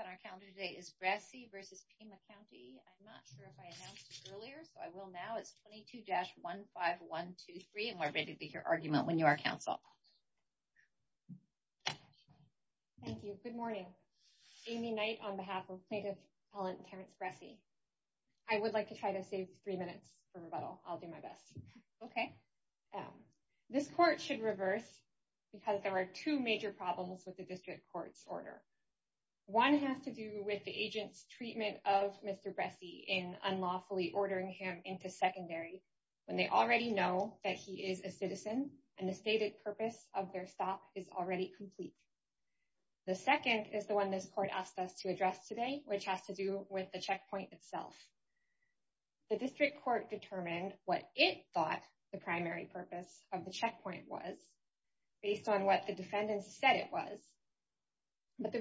on our calendar today is Grassi versus Pima County. I'm not sure if I announced this earlier, so I will now. It's 22-15123, and we're ready to hear your argument when you are counsel. Thank you. Good morning. Amy Knight on behalf of plaintiff appellant Terrence Grassi. I would like to try to save three minutes for rebuttal. I'll do my best. Okay. This court should reverse because there are two major problems with the district court's order. One has to do with the agent's treatment of Mr. Grassi in unlawfully ordering him into secondary when they already know that he is a citizen and the stated purpose of their stop is already complete. The second is the one this court asked us to address today, which has to do with the checkpoint itself. The district court determined what it thought the primary purpose of the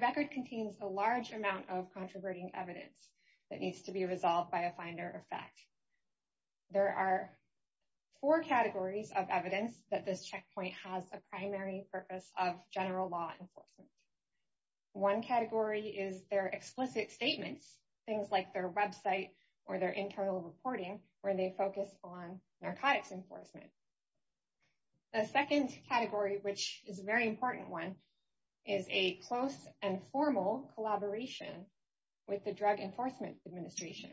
record contains a large amount of controverting evidence that needs to be resolved by a finder of fact. There are four categories of evidence that this checkpoint has a primary purpose of general law enforcement. One category is their explicit statements, things like their website or their internal reporting, where they focus on narcotics enforcement. The second category, which is a very important one, is a close and formal collaboration with the Drug Enforcement Administration.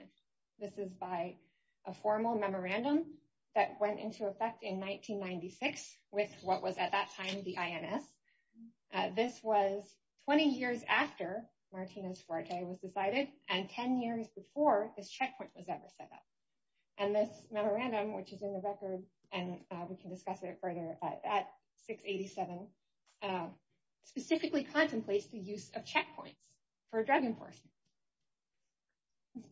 This is by a formal memorandum that went into effect in 1996 with what was at that time the INS. This was 20 years after Martinez-Fuerte was decided and 10 years before this checkpoint was ever set up. And this memorandum, which is in the record, and we can see it in page 87, specifically contemplates the use of checkpoints for drug enforcement.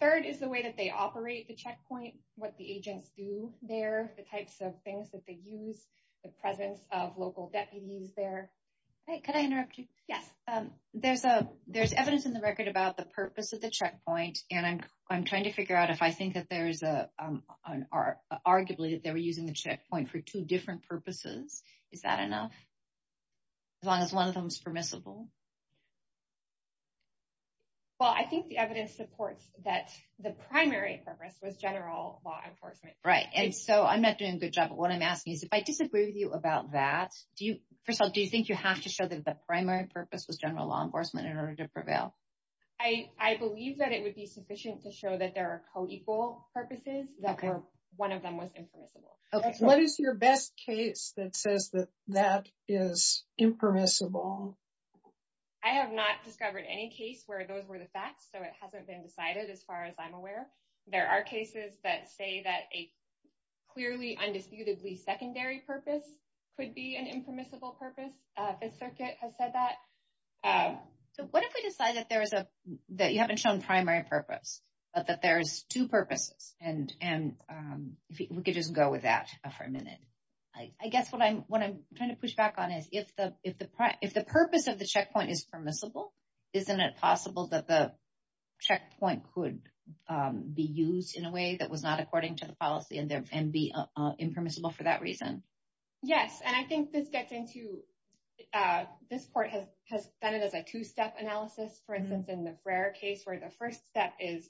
Third is the way that they operate the checkpoint, what the agents do there, the types of things that they use, the presence of local deputies there. Can I interrupt you? Yes. There's evidence in the record about the purpose of the checkpoint, and I'm trying to figure out if I think that there's an arguably that they were using the as long as one of them is permissible. Well, I think the evidence supports that the primary purpose was general law enforcement. Right. And so I'm not doing a good job, but what I'm asking is if I disagree with you about that, first of all, do you think you have to show that the primary purpose was general law enforcement in order to prevail? I believe that it would be sufficient to show that there are co-equal purposes that were one of them was impermissible. What is your best case that says that that is impermissible? I have not discovered any case where those were the facts, so it hasn't been decided as far as I'm aware. There are cases that say that a clearly undisputedly secondary purpose could be an impermissible purpose. The circuit has said that. So what if we decide that you haven't shown primary purpose, but that there's two purposes, and we could just go with that for a minute. I guess what I'm trying to push back on is if the purpose of the checkpoint is permissible, isn't it possible that the checkpoint could be used in a way that was not according to the policy and be impermissible for that reason? Yes. And I think this gets into, this court has done it as a two-step analysis, for instance, the Frayer case, where the first step is,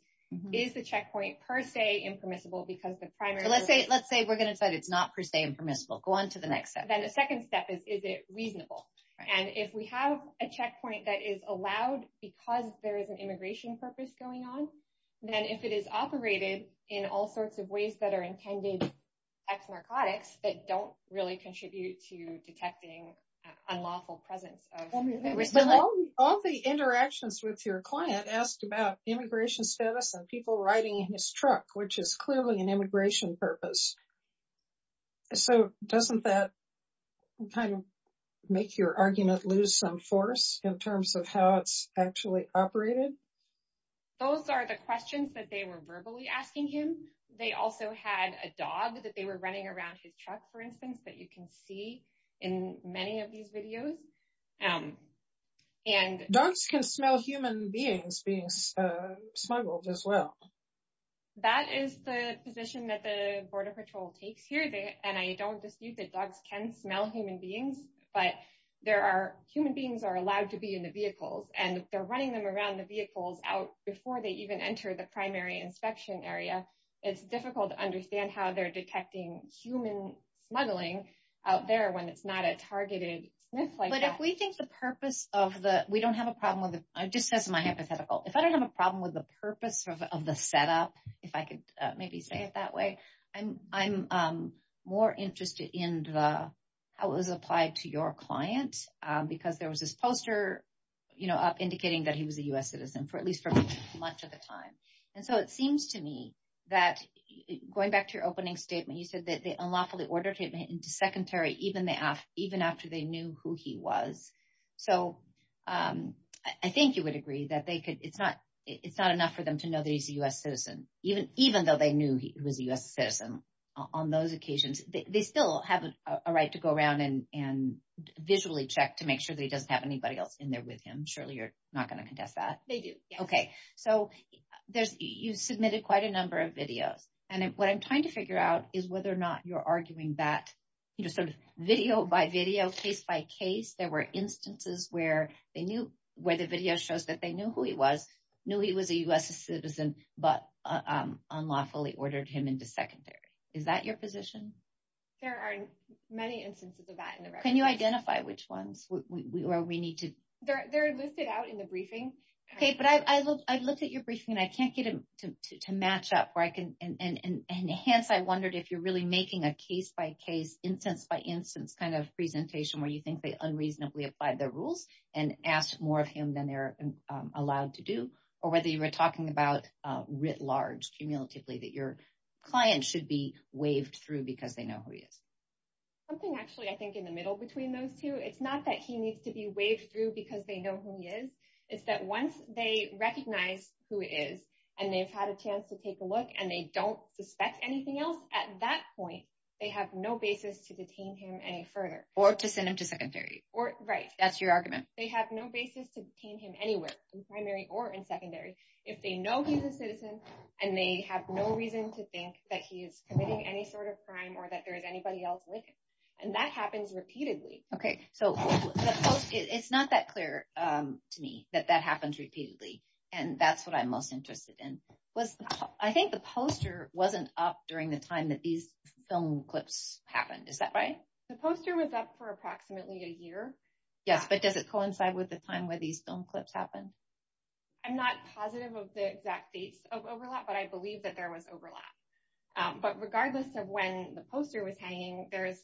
is the checkpoint per se impermissible because the primary- So let's say we're going to decide it's not per se impermissible. Go on to the next step. Then the second step is, is it reasonable? And if we have a checkpoint that is allowed because there is an immigration purpose going on, then if it is operated in all sorts of ways that are intended ex-narcotics that don't really contribute to detecting unlawful presence of- All the interactions with your client asked about immigration status and people riding in his truck, which is clearly an immigration purpose. So doesn't that kind of make your argument lose some force in terms of how it's actually operated? Those are the questions that they were verbally asking him. They also had a dog that they were running around his truck, for instance, that you can see in many of these videos. Dogs can smell human beings being smuggled as well. That is the position that the Border Patrol takes here. And I don't dispute that dogs can smell human beings, but there are, human beings are allowed to be in the vehicles and they're running them around the vehicles out before they even enter the primary inspection area. It's difficult to understand how they're detecting human smuggling out there when it's not a targeted- But if we think the purpose of the... We don't have a problem with the... I'm just saying this in my hypothetical. If I don't have a problem with the purpose of the setup, if I could maybe say it that way, I'm more interested in how it was applied to your client because there was this poster up indicating that he was a US citizen for at least for much of the time. And so it seems to me that going back to your opening statement, you said that they unlawfully ordered him into secondary even after they knew who he was. So I think you would agree that it's not enough for them to know that he's a US citizen, even though they knew he was a US citizen on those occasions. They still have a right to go around and visually check to make sure that he doesn't have anybody else in there with him. Surely you're not going to contest that. They do. Okay. So you submitted quite a number of videos. And what I'm trying to figure out is whether or not you're arguing that video by video, case by case, there were instances where the video shows that they knew who he was, knew he was a US citizen, but unlawfully ordered him into secondary. Is that your position? There are many instances of that in the record. Can you identify which ones where we need to- They're listed out in the briefing. Okay. But I've looked at your briefing and I can't get it to match up. And hence, I wondered if you're really making a case by case, instance by instance kind of presentation where you think they unreasonably applied their rules and asked more of him than they're allowed to do, or whether you were talking about writ large, cumulatively, that your client should be waved through because they know who he is. Something actually, I think in the middle between those two, it's not that he needs to be waved through because they know who he is. It's that once they recognize who it is, and they've had a chance to take a look and they don't suspect anything else at that point, they have no basis to detain him any further. Or to send him to secondary. Right. That's your argument. They have no basis to detain him anywhere in primary or in secondary if they know he's a citizen and they have no reason to think that he is committing any sort of crime or that there is anybody else with him. And that happens repeatedly. Okay. So it's not that clear to me that that happens repeatedly. And that's what I'm most interested in. I think the poster wasn't up during the time that these film clips happened. Is that right? The poster was up for approximately a year. Yes. But does it coincide with the time where these film clips happen? I'm not positive of the exact dates of overlap, but I believe that there was overlap. But regardless of when the poster was hanging, there's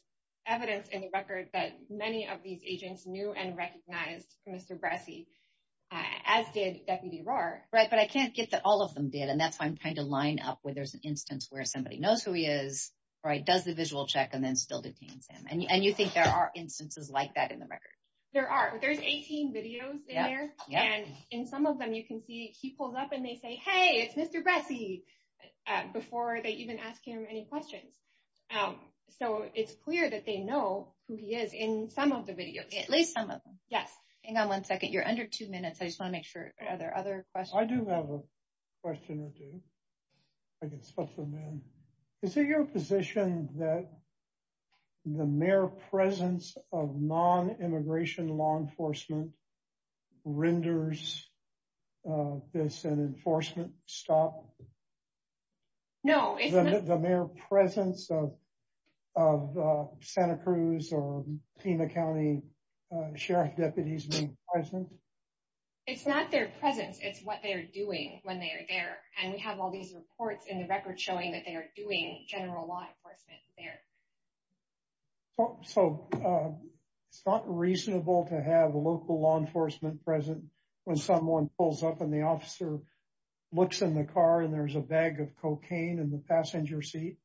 evidence in the record that many of these agents knew and recognized Mr. Bresci, as did Deputy Rohr. Right. But I can't get that all of them did. And that's why I'm trying to line up where there's an instance where somebody knows who he is, right? Does the visual check and then still detains him. And you think there are instances like that in the record? There are. There's 18 videos in there. And in some of them, you can see he pulls up and they say, it's Mr. Bresci before they even ask him any questions. So it's clear that they know who he is in some of the videos. At least some of them. Yes. Hang on one second. You're under two minutes. I just want to make sure. Are there other questions? I do have a question or two. I can switch them in. Is it your position that the mere presence of non-immigration law enforcement renders this an enforcement stop? No, it's not. The mere presence of Santa Cruz or Pima County Sheriff deputies being present? It's not their presence. It's what they're doing when they are there. And we have all these reports in the record showing that they are doing general law enforcement there. So it's not reasonable to have local law enforcement present when someone pulls up and the officer looks in the car and there's a bag of cocaine in the passenger seat,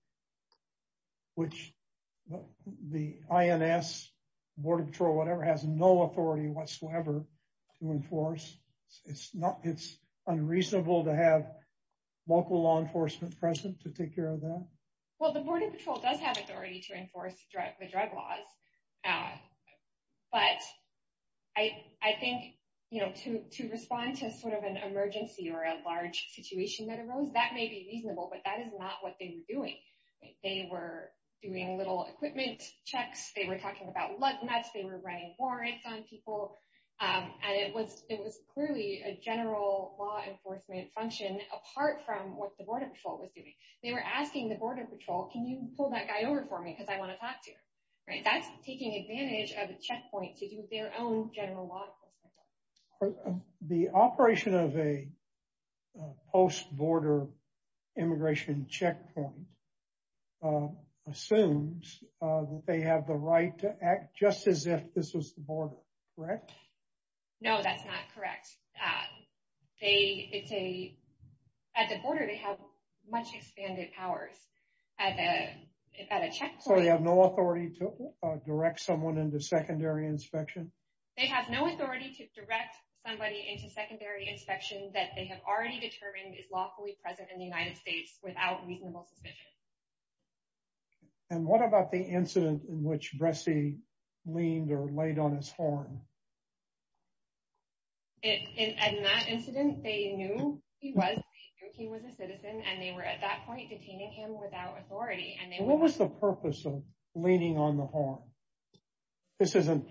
which the INS, Border Patrol, whatever, has no authority whatsoever to enforce. It's unreasonable to have local law enforcement present to take care of that? Well, the Border Patrol does have authority to enforce the drug laws. But I think to respond to sort of an emergency or a large situation that arose, that may be reasonable, but that is not what they were doing. They were doing little equipment checks. They were talking about lug nuts. They were writing warrants on people. And it was clearly a general law enforcement function apart from what the Border Patrol was doing. They were asking the Border Patrol, can you pull that guy over for me because I want to talk to you. That's taking advantage of a checkpoint to do their own general law enforcement. The operation of a post-border immigration checkpoint assumes that they have the right to act just as if this was the border, correct? No, that's not correct. At the border, they have much expanded powers. So they have no authority to direct someone into secondary inspection? They have no authority to direct somebody into secondary inspection that they have already determined is lawfully present in the United States without reasonable suspicion. And what about the incident in which Bresci leaned or laid on his horn? In that incident, they knew he was a citizen and they were at that point detaining him without authority. And they were- What was the purpose of leaning on the horn? This isn't,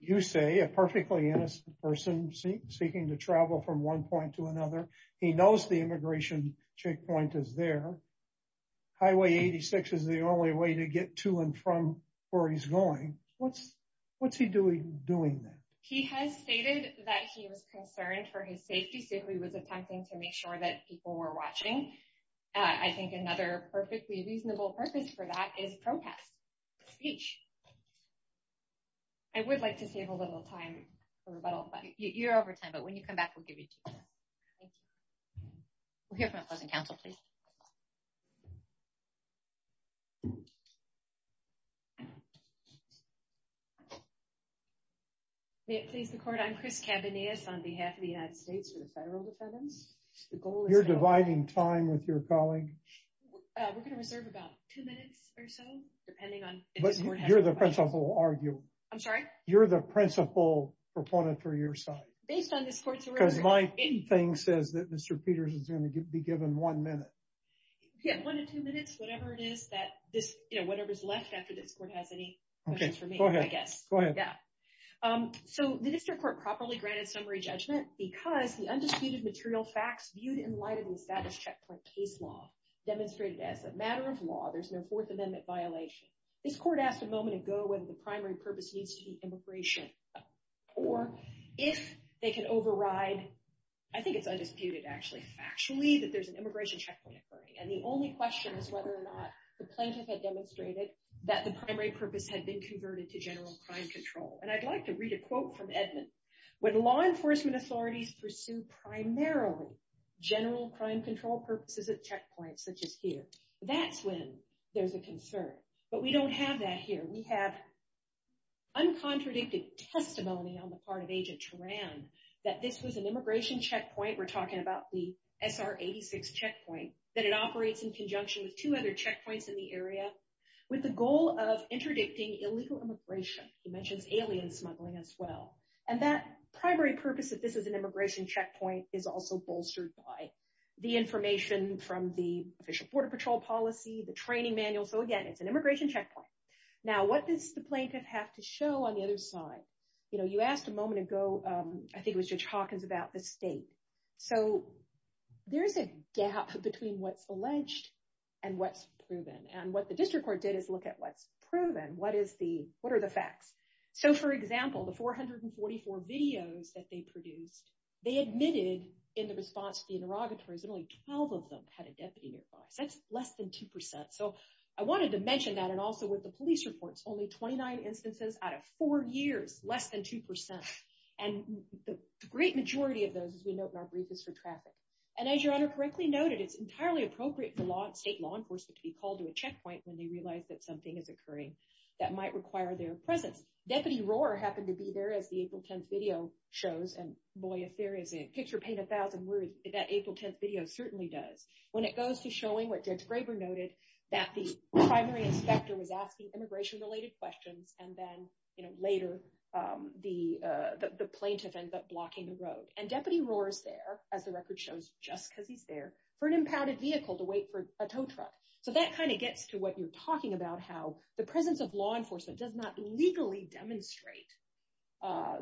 you say, a perfectly innocent person seeking to travel from one point to another. He knows the immigration checkpoint is there. Highway 86 is the only way to get to and from where he's going. What's he doing there? He has stated that he was concerned for his safety. So he was attempting to make sure that people were watching. I think another perfectly reasonable purpose for that is protest, speech. I would like to save a little time for rebuttal, but you're over time. But when I'm done, I'm going to close the council, please. May it please the court, I'm Chris Cabanillas on behalf of the United States for the federal defendants. The goal is- You're dividing time with your colleague. We're going to reserve about two minutes or so, depending on- But you're the principal arguer. I'm sorry? You're the principal proponent for your side. Based on this court's- My thing says that Mr. Peters is going to be given one minute. Yeah, one to two minutes, whatever it is, whatever's left after this court has any questions for me, I guess. Go ahead. Yeah. So the district court properly granted summary judgment because the undisputed material facts viewed in light of the status checkpoint case law demonstrated as a matter of law, there's no Fourth Amendment violation. This court asked a moment ago whether the primary purpose needs to be immigration or if they can override, I think it's undisputed actually, factually, that there's an immigration checkpoint occurring. And the only question is whether or not the plaintiff had demonstrated that the primary purpose had been converted to general crime control. And I'd like to read a quote from Edmund. When law enforcement authorities pursue primarily general crime control purposes at checkpoints, such as here, that's when there's a concern. But we don't have that here. We have uncontradicted testimony on the part of Agent Turan that this was an immigration checkpoint. We're talking about the SR-86 checkpoint, that it operates in conjunction with two other checkpoints in the area with the goal of interdicting illegal immigration. He mentions alien smuggling as well. And that primary purpose that this is an immigration checkpoint is also bolstered by the information from the Border Patrol policy, the training manual. So again, it's an immigration checkpoint. Now, what does the plaintiff have to show on the other side? You asked a moment ago, I think it was Judge Hawkins, about the state. So there's a gap between what's alleged and what's proven. And what the district court did is look at what's proven. What are the facts? So for example, the 444 videos that they produced, they admitted in the response to the interrogators that only 12 of them had a deputy nearby. So that's less than 2%. So I wanted to mention that. And also with the police reports, only 29 instances out of four years, less than 2%. And the great majority of those, as we note in our brief, is for traffic. And as Your Honor correctly noted, it's entirely appropriate for state law enforcement to be called to a checkpoint when they realize that something is occurring that might require their presence. Deputy Rohr happened to be there as the April 10th video shows. And boy, if there is a picture to paint a thousand words, that April 10th video certainly does. When it goes to showing what Judge Graber noted, that the primary inspector was asking immigration-related questions. And then later, the plaintiff ends up blocking the road. And Deputy Rohr is there, as the record shows, just because he's there, for an impounded vehicle to wait for a tow truck. So that kind of gets to what you're talking about, how the presence of law enforcement does not legally demonstrate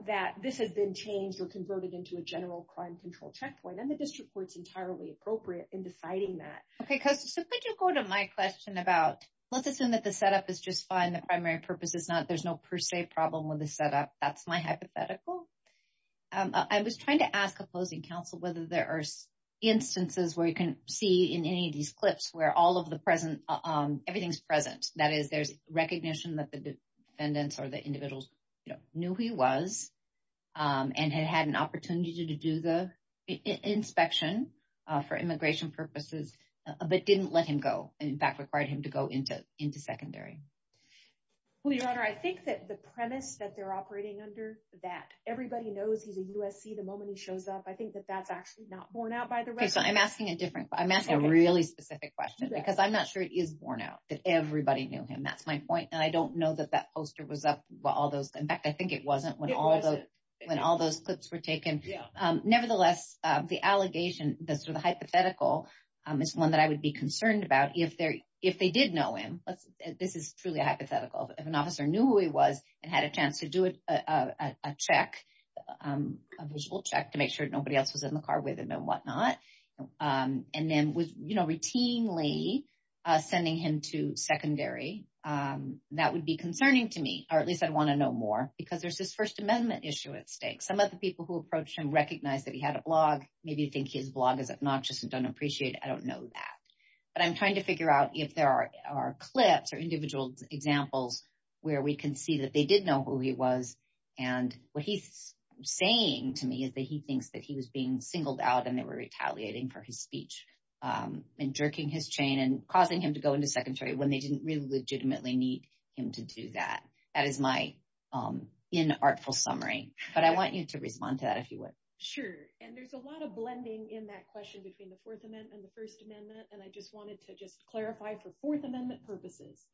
that this has been changed or converted into a general crime control checkpoint. And the district court's entirely appropriate in deciding that. Okay, so could you go to my question about, let's assume that the setup is just fine, the primary purpose is not, there's no per se problem with the setup. That's my hypothetical. I was trying to ask opposing counsel whether there are instances where you can see in any of these clips where all of the present, everything's present. That is, there's defendants or the individuals knew who he was and had had an opportunity to do the inspection for immigration purposes, but didn't let him go. In fact, required him to go into secondary. Well, Your Honor, I think that the premise that they're operating under, that everybody knows he's a USC the moment he shows up, I think that that's actually not borne out by the record. Okay, so I'm asking a different, I'm asking a really specific question, because I'm not sure it is borne out, that everybody knew him. That's my point. And I know that that poster was up while all those, in fact, I think it wasn't when all those clips were taken. Nevertheless, the allegation, the hypothetical is one that I would be concerned about if they did know him. This is truly a hypothetical. If an officer knew who he was and had a chance to do a check, a visual check to make sure nobody else was in the car with him and whatnot, and then was routinely sending him to secondary, that would be concerning to me, or at least I'd want to know more, because there's this First Amendment issue at stake. Some of the people who approached him recognized that he had a blog. Maybe you think his blog is obnoxious and don't appreciate it. I don't know that. But I'm trying to figure out if there are clips or individual examples where we can see that they did know who he was. And what he's saying to me is he thinks that he was being singled out and they were retaliating for his speech and jerking his chain and causing him to go into secondary when they didn't really legitimately need him to do that. That is my inartful summary. But I want you to respond to that if you would. Sure. And there's a lot of blending in that question between the Fourth Amendment and the First Amendment. And I just wanted to just clarify for Fourth Amendment purposes,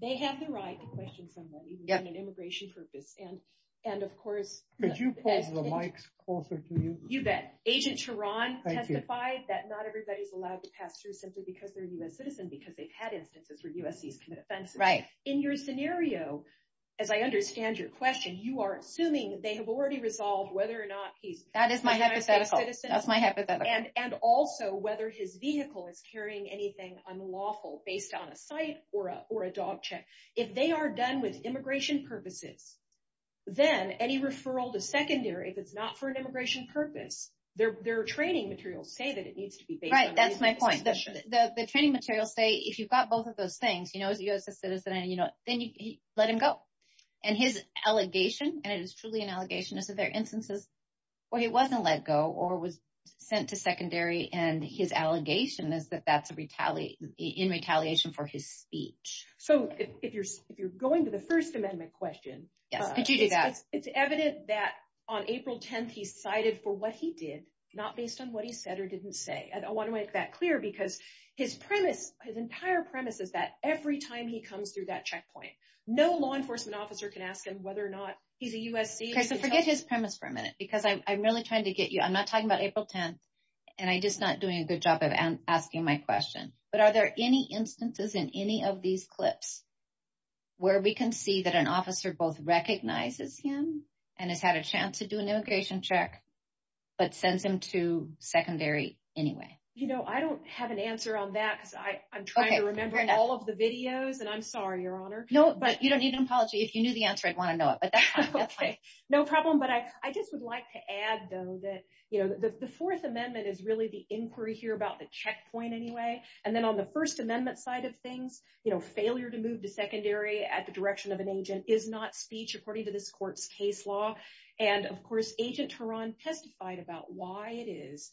they have the right to question someone even in an immigration purpose. And, of course, could you pull the mics closer to you? You bet. Agent Charron testified that not everybody's allowed to pass through simply because they're a U.S. citizen, because they've had instances where USC's commit offenses. Right. In your scenario, as I understand your question, you are assuming they have already resolved whether or not he's a U.S. citizen. That's my hypothetical. And also whether his vehicle is carrying anything unlawful based on a site or a dog check. If they are done with immigration purposes, then any referral to secondary, if it's not for an immigration purpose, their training materials say that it needs to be based on immigration. Right. That's my point. The training materials say if you've got both of those things, you know, as a U.S. citizen, you know, then you let him go. And his allegation, and it is truly an allegation, is that there are instances where he wasn't let go or was in retaliation for his speech. So if you're going to the First Amendment question, it's evident that on April 10th, he cited for what he did, not based on what he said or didn't say. And I want to make that clear because his premise, his entire premise is that every time he comes through that checkpoint, no law enforcement officer can ask him whether or not he's a U.S. citizen. Okay, so forget his premise for a minute, because I'm really trying to get you. I'm not talking about April 10th, and I'm just not doing a good job of asking my question. But are there any instances in any of these clips where we can see that an officer both recognizes him and has had a chance to do an immigration check, but sends him to secondary anyway? You know, I don't have an answer on that because I'm trying to remember all of the videos, and I'm sorry, Your Honor. No, but you don't need an apology. If you knew the answer, I'd want to know it, but that's fine. Okay, no problem. But I just would like to add, though, you know, the Fourth Amendment is really the inquiry here about the checkpoint anyway. And then on the First Amendment side of things, you know, failure to move to secondary at the direction of an agent is not speech, according to this court's case law. And, of course, Agent Teran testified about why it is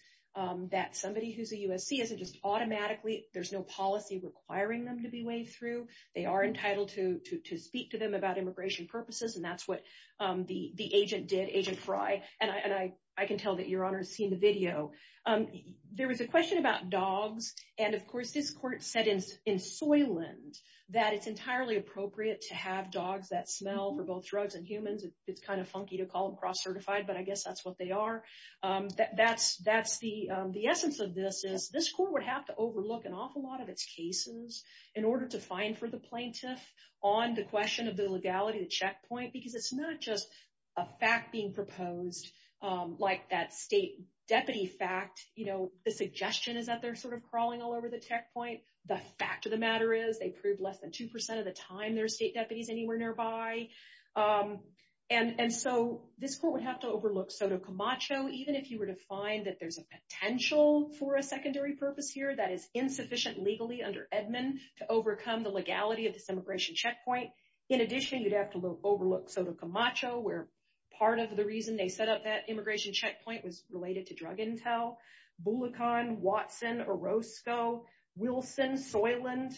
that somebody who's a USC isn't just automatically, there's no policy requiring them to be waved through. They are entitled to speak to them about immigration purposes, and that's what the agent did, Agent Frye. And I can tell that Your Honor has seen the video. There was a question about dogs. And, of course, this court said in Soylent that it's entirely appropriate to have dogs that smell for both drugs and humans. It's kind of funky to call them cross-certified, but I guess that's what they are. The essence of this is this court would have to overlook an awful lot of its cases in order to find for the plaintiff on the question of the legality of the checkpoint, because it's not just a fact being proposed, like that state deputy fact, you know, the suggestion is that they're sort of crawling all over the checkpoint. The fact of the matter is they prove less than 2% of the time there are state deputies anywhere nearby. And so this court would have to overlook Soto Camacho, even if you were to find that there's a potential for a secondary purpose here that is insufficient legally under Edmund to overcome the legality of this immigration checkpoint. In addition, you'd have to overlook Soto Camacho, where part of the reason they set up that immigration checkpoint was related to drug intel. Bullikhan, Watson, Orozco, Wilson, Soylent,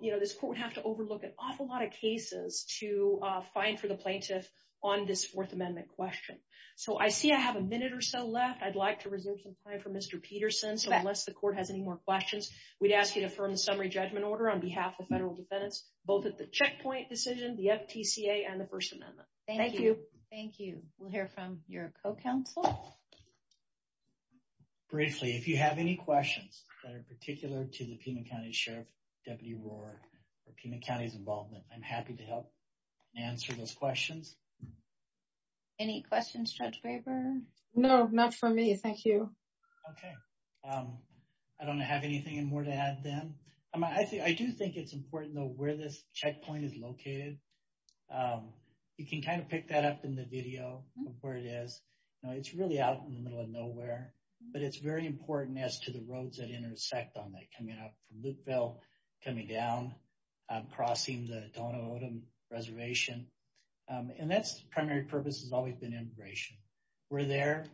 you know, this court would have to overlook an awful lot of cases to find for the plaintiff on this Fourth Amendment question. So I see I have a minute or so left. I'd like to reserve some time for Mr. Summary Judgment Order on behalf of federal defendants, both at the checkpoint decision, the FTCA, and the First Amendment. Thank you. Thank you. We'll hear from your co-counsel. Briefly, if you have any questions that are particular to the Pima County Sheriff, Deputy Rohr, or Pima County's involvement, I'm happy to help answer those questions. Any questions, Judge Weber? No, not for me. Thank you. Okay. I don't have anything more to add then. I do think it's important, though, where this checkpoint is located. You can kind of pick that up in the video of where it is. It's really out in the middle of nowhere. But it's very important as to the roads that intersect on that coming up from Lukeville, coming down, crossing the Dono Odom Reservation. And that's primary purpose has always been immigration. We're there.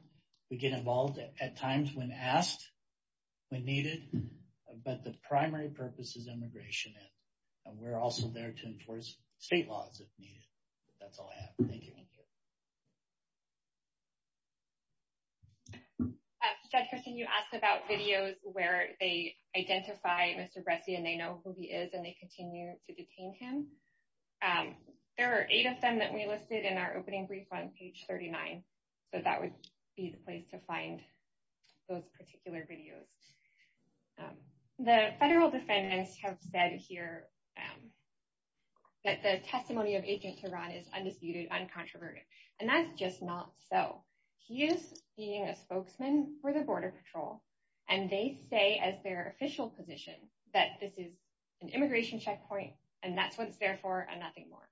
We get involved at times when asked, when needed. But the primary purpose is immigration. And we're also there to enforce state laws if needed. That's all I have. Thank you. Judge Christine, you asked about videos where they identify Mr. Bresci, and they know who he is, and they continue to detain him. There are eight of them that we listed in our opening brief on page 39. So that would be the place to find those particular videos. The federal defendants have said here that the testimony of Agent Tehran is undisputed, uncontroverted. And that's just not so. He is being a spokesman for the Border Patrol. And they say as their official position that this is an immigration checkpoint. And that's what it's there for and nothing more.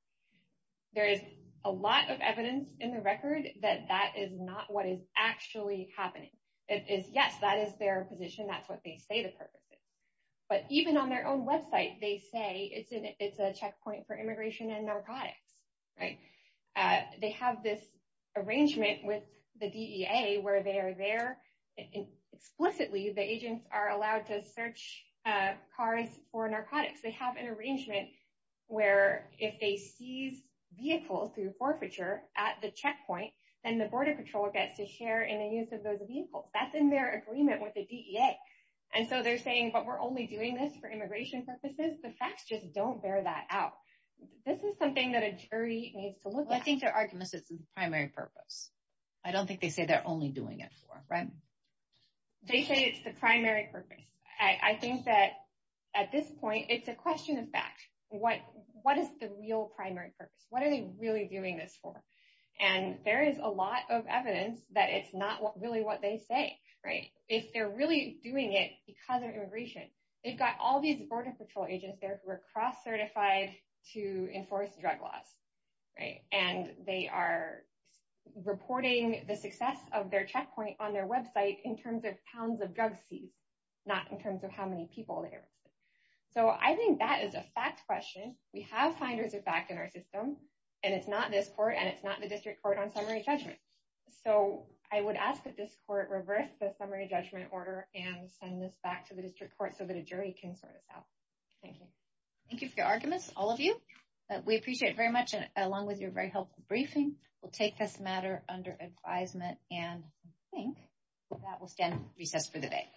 There is a lot of evidence in the record that that is not what is actually happening. It is, yes, that is their position. That's what they say the purpose is. But even on their own website, they say it's a checkpoint for immigration and narcotics. They have this arrangement with the DEA where they are there. Explicitly, the agents are allowed to search cars for narcotics. They have an arrangement where if they seize vehicles through forfeiture at the checkpoint, then the Border Patrol gets to share in the use of those vehicles. That's in their agreement with the DEA. And so they're saying, but we're only doing this for immigration purposes. The facts just don't bear that out. This is something that a jury needs to look at. Well, I think their argument is it's the primary purpose. I don't think they say they're only doing it for, right? They say it's the primary purpose. I think that at this point, it's a question of fact. What is the real primary purpose? What are they really doing this for? And there is a lot of evidence that it's not really what they say, right? If they're really doing it because of immigration, they've got all these Border Patrol agents there who are cross-certified to enforce drug laws, right? And they are reporting the success of their checkpoint on their website in terms of pounds of drug seized, not in terms of how many people they arrested. So I think that is a fact question. We have finders of fact in our system and it's not this court and it's not the district court on summary judgment. So I would ask that this court reverse the summary judgment order and send this back to the district court so that a jury can sort this out. Thank you. Thank you for your arguments, all of you. We appreciate it very much along with your very helpful briefing. We'll take this matter under advisement and I think that will stand recess for the day.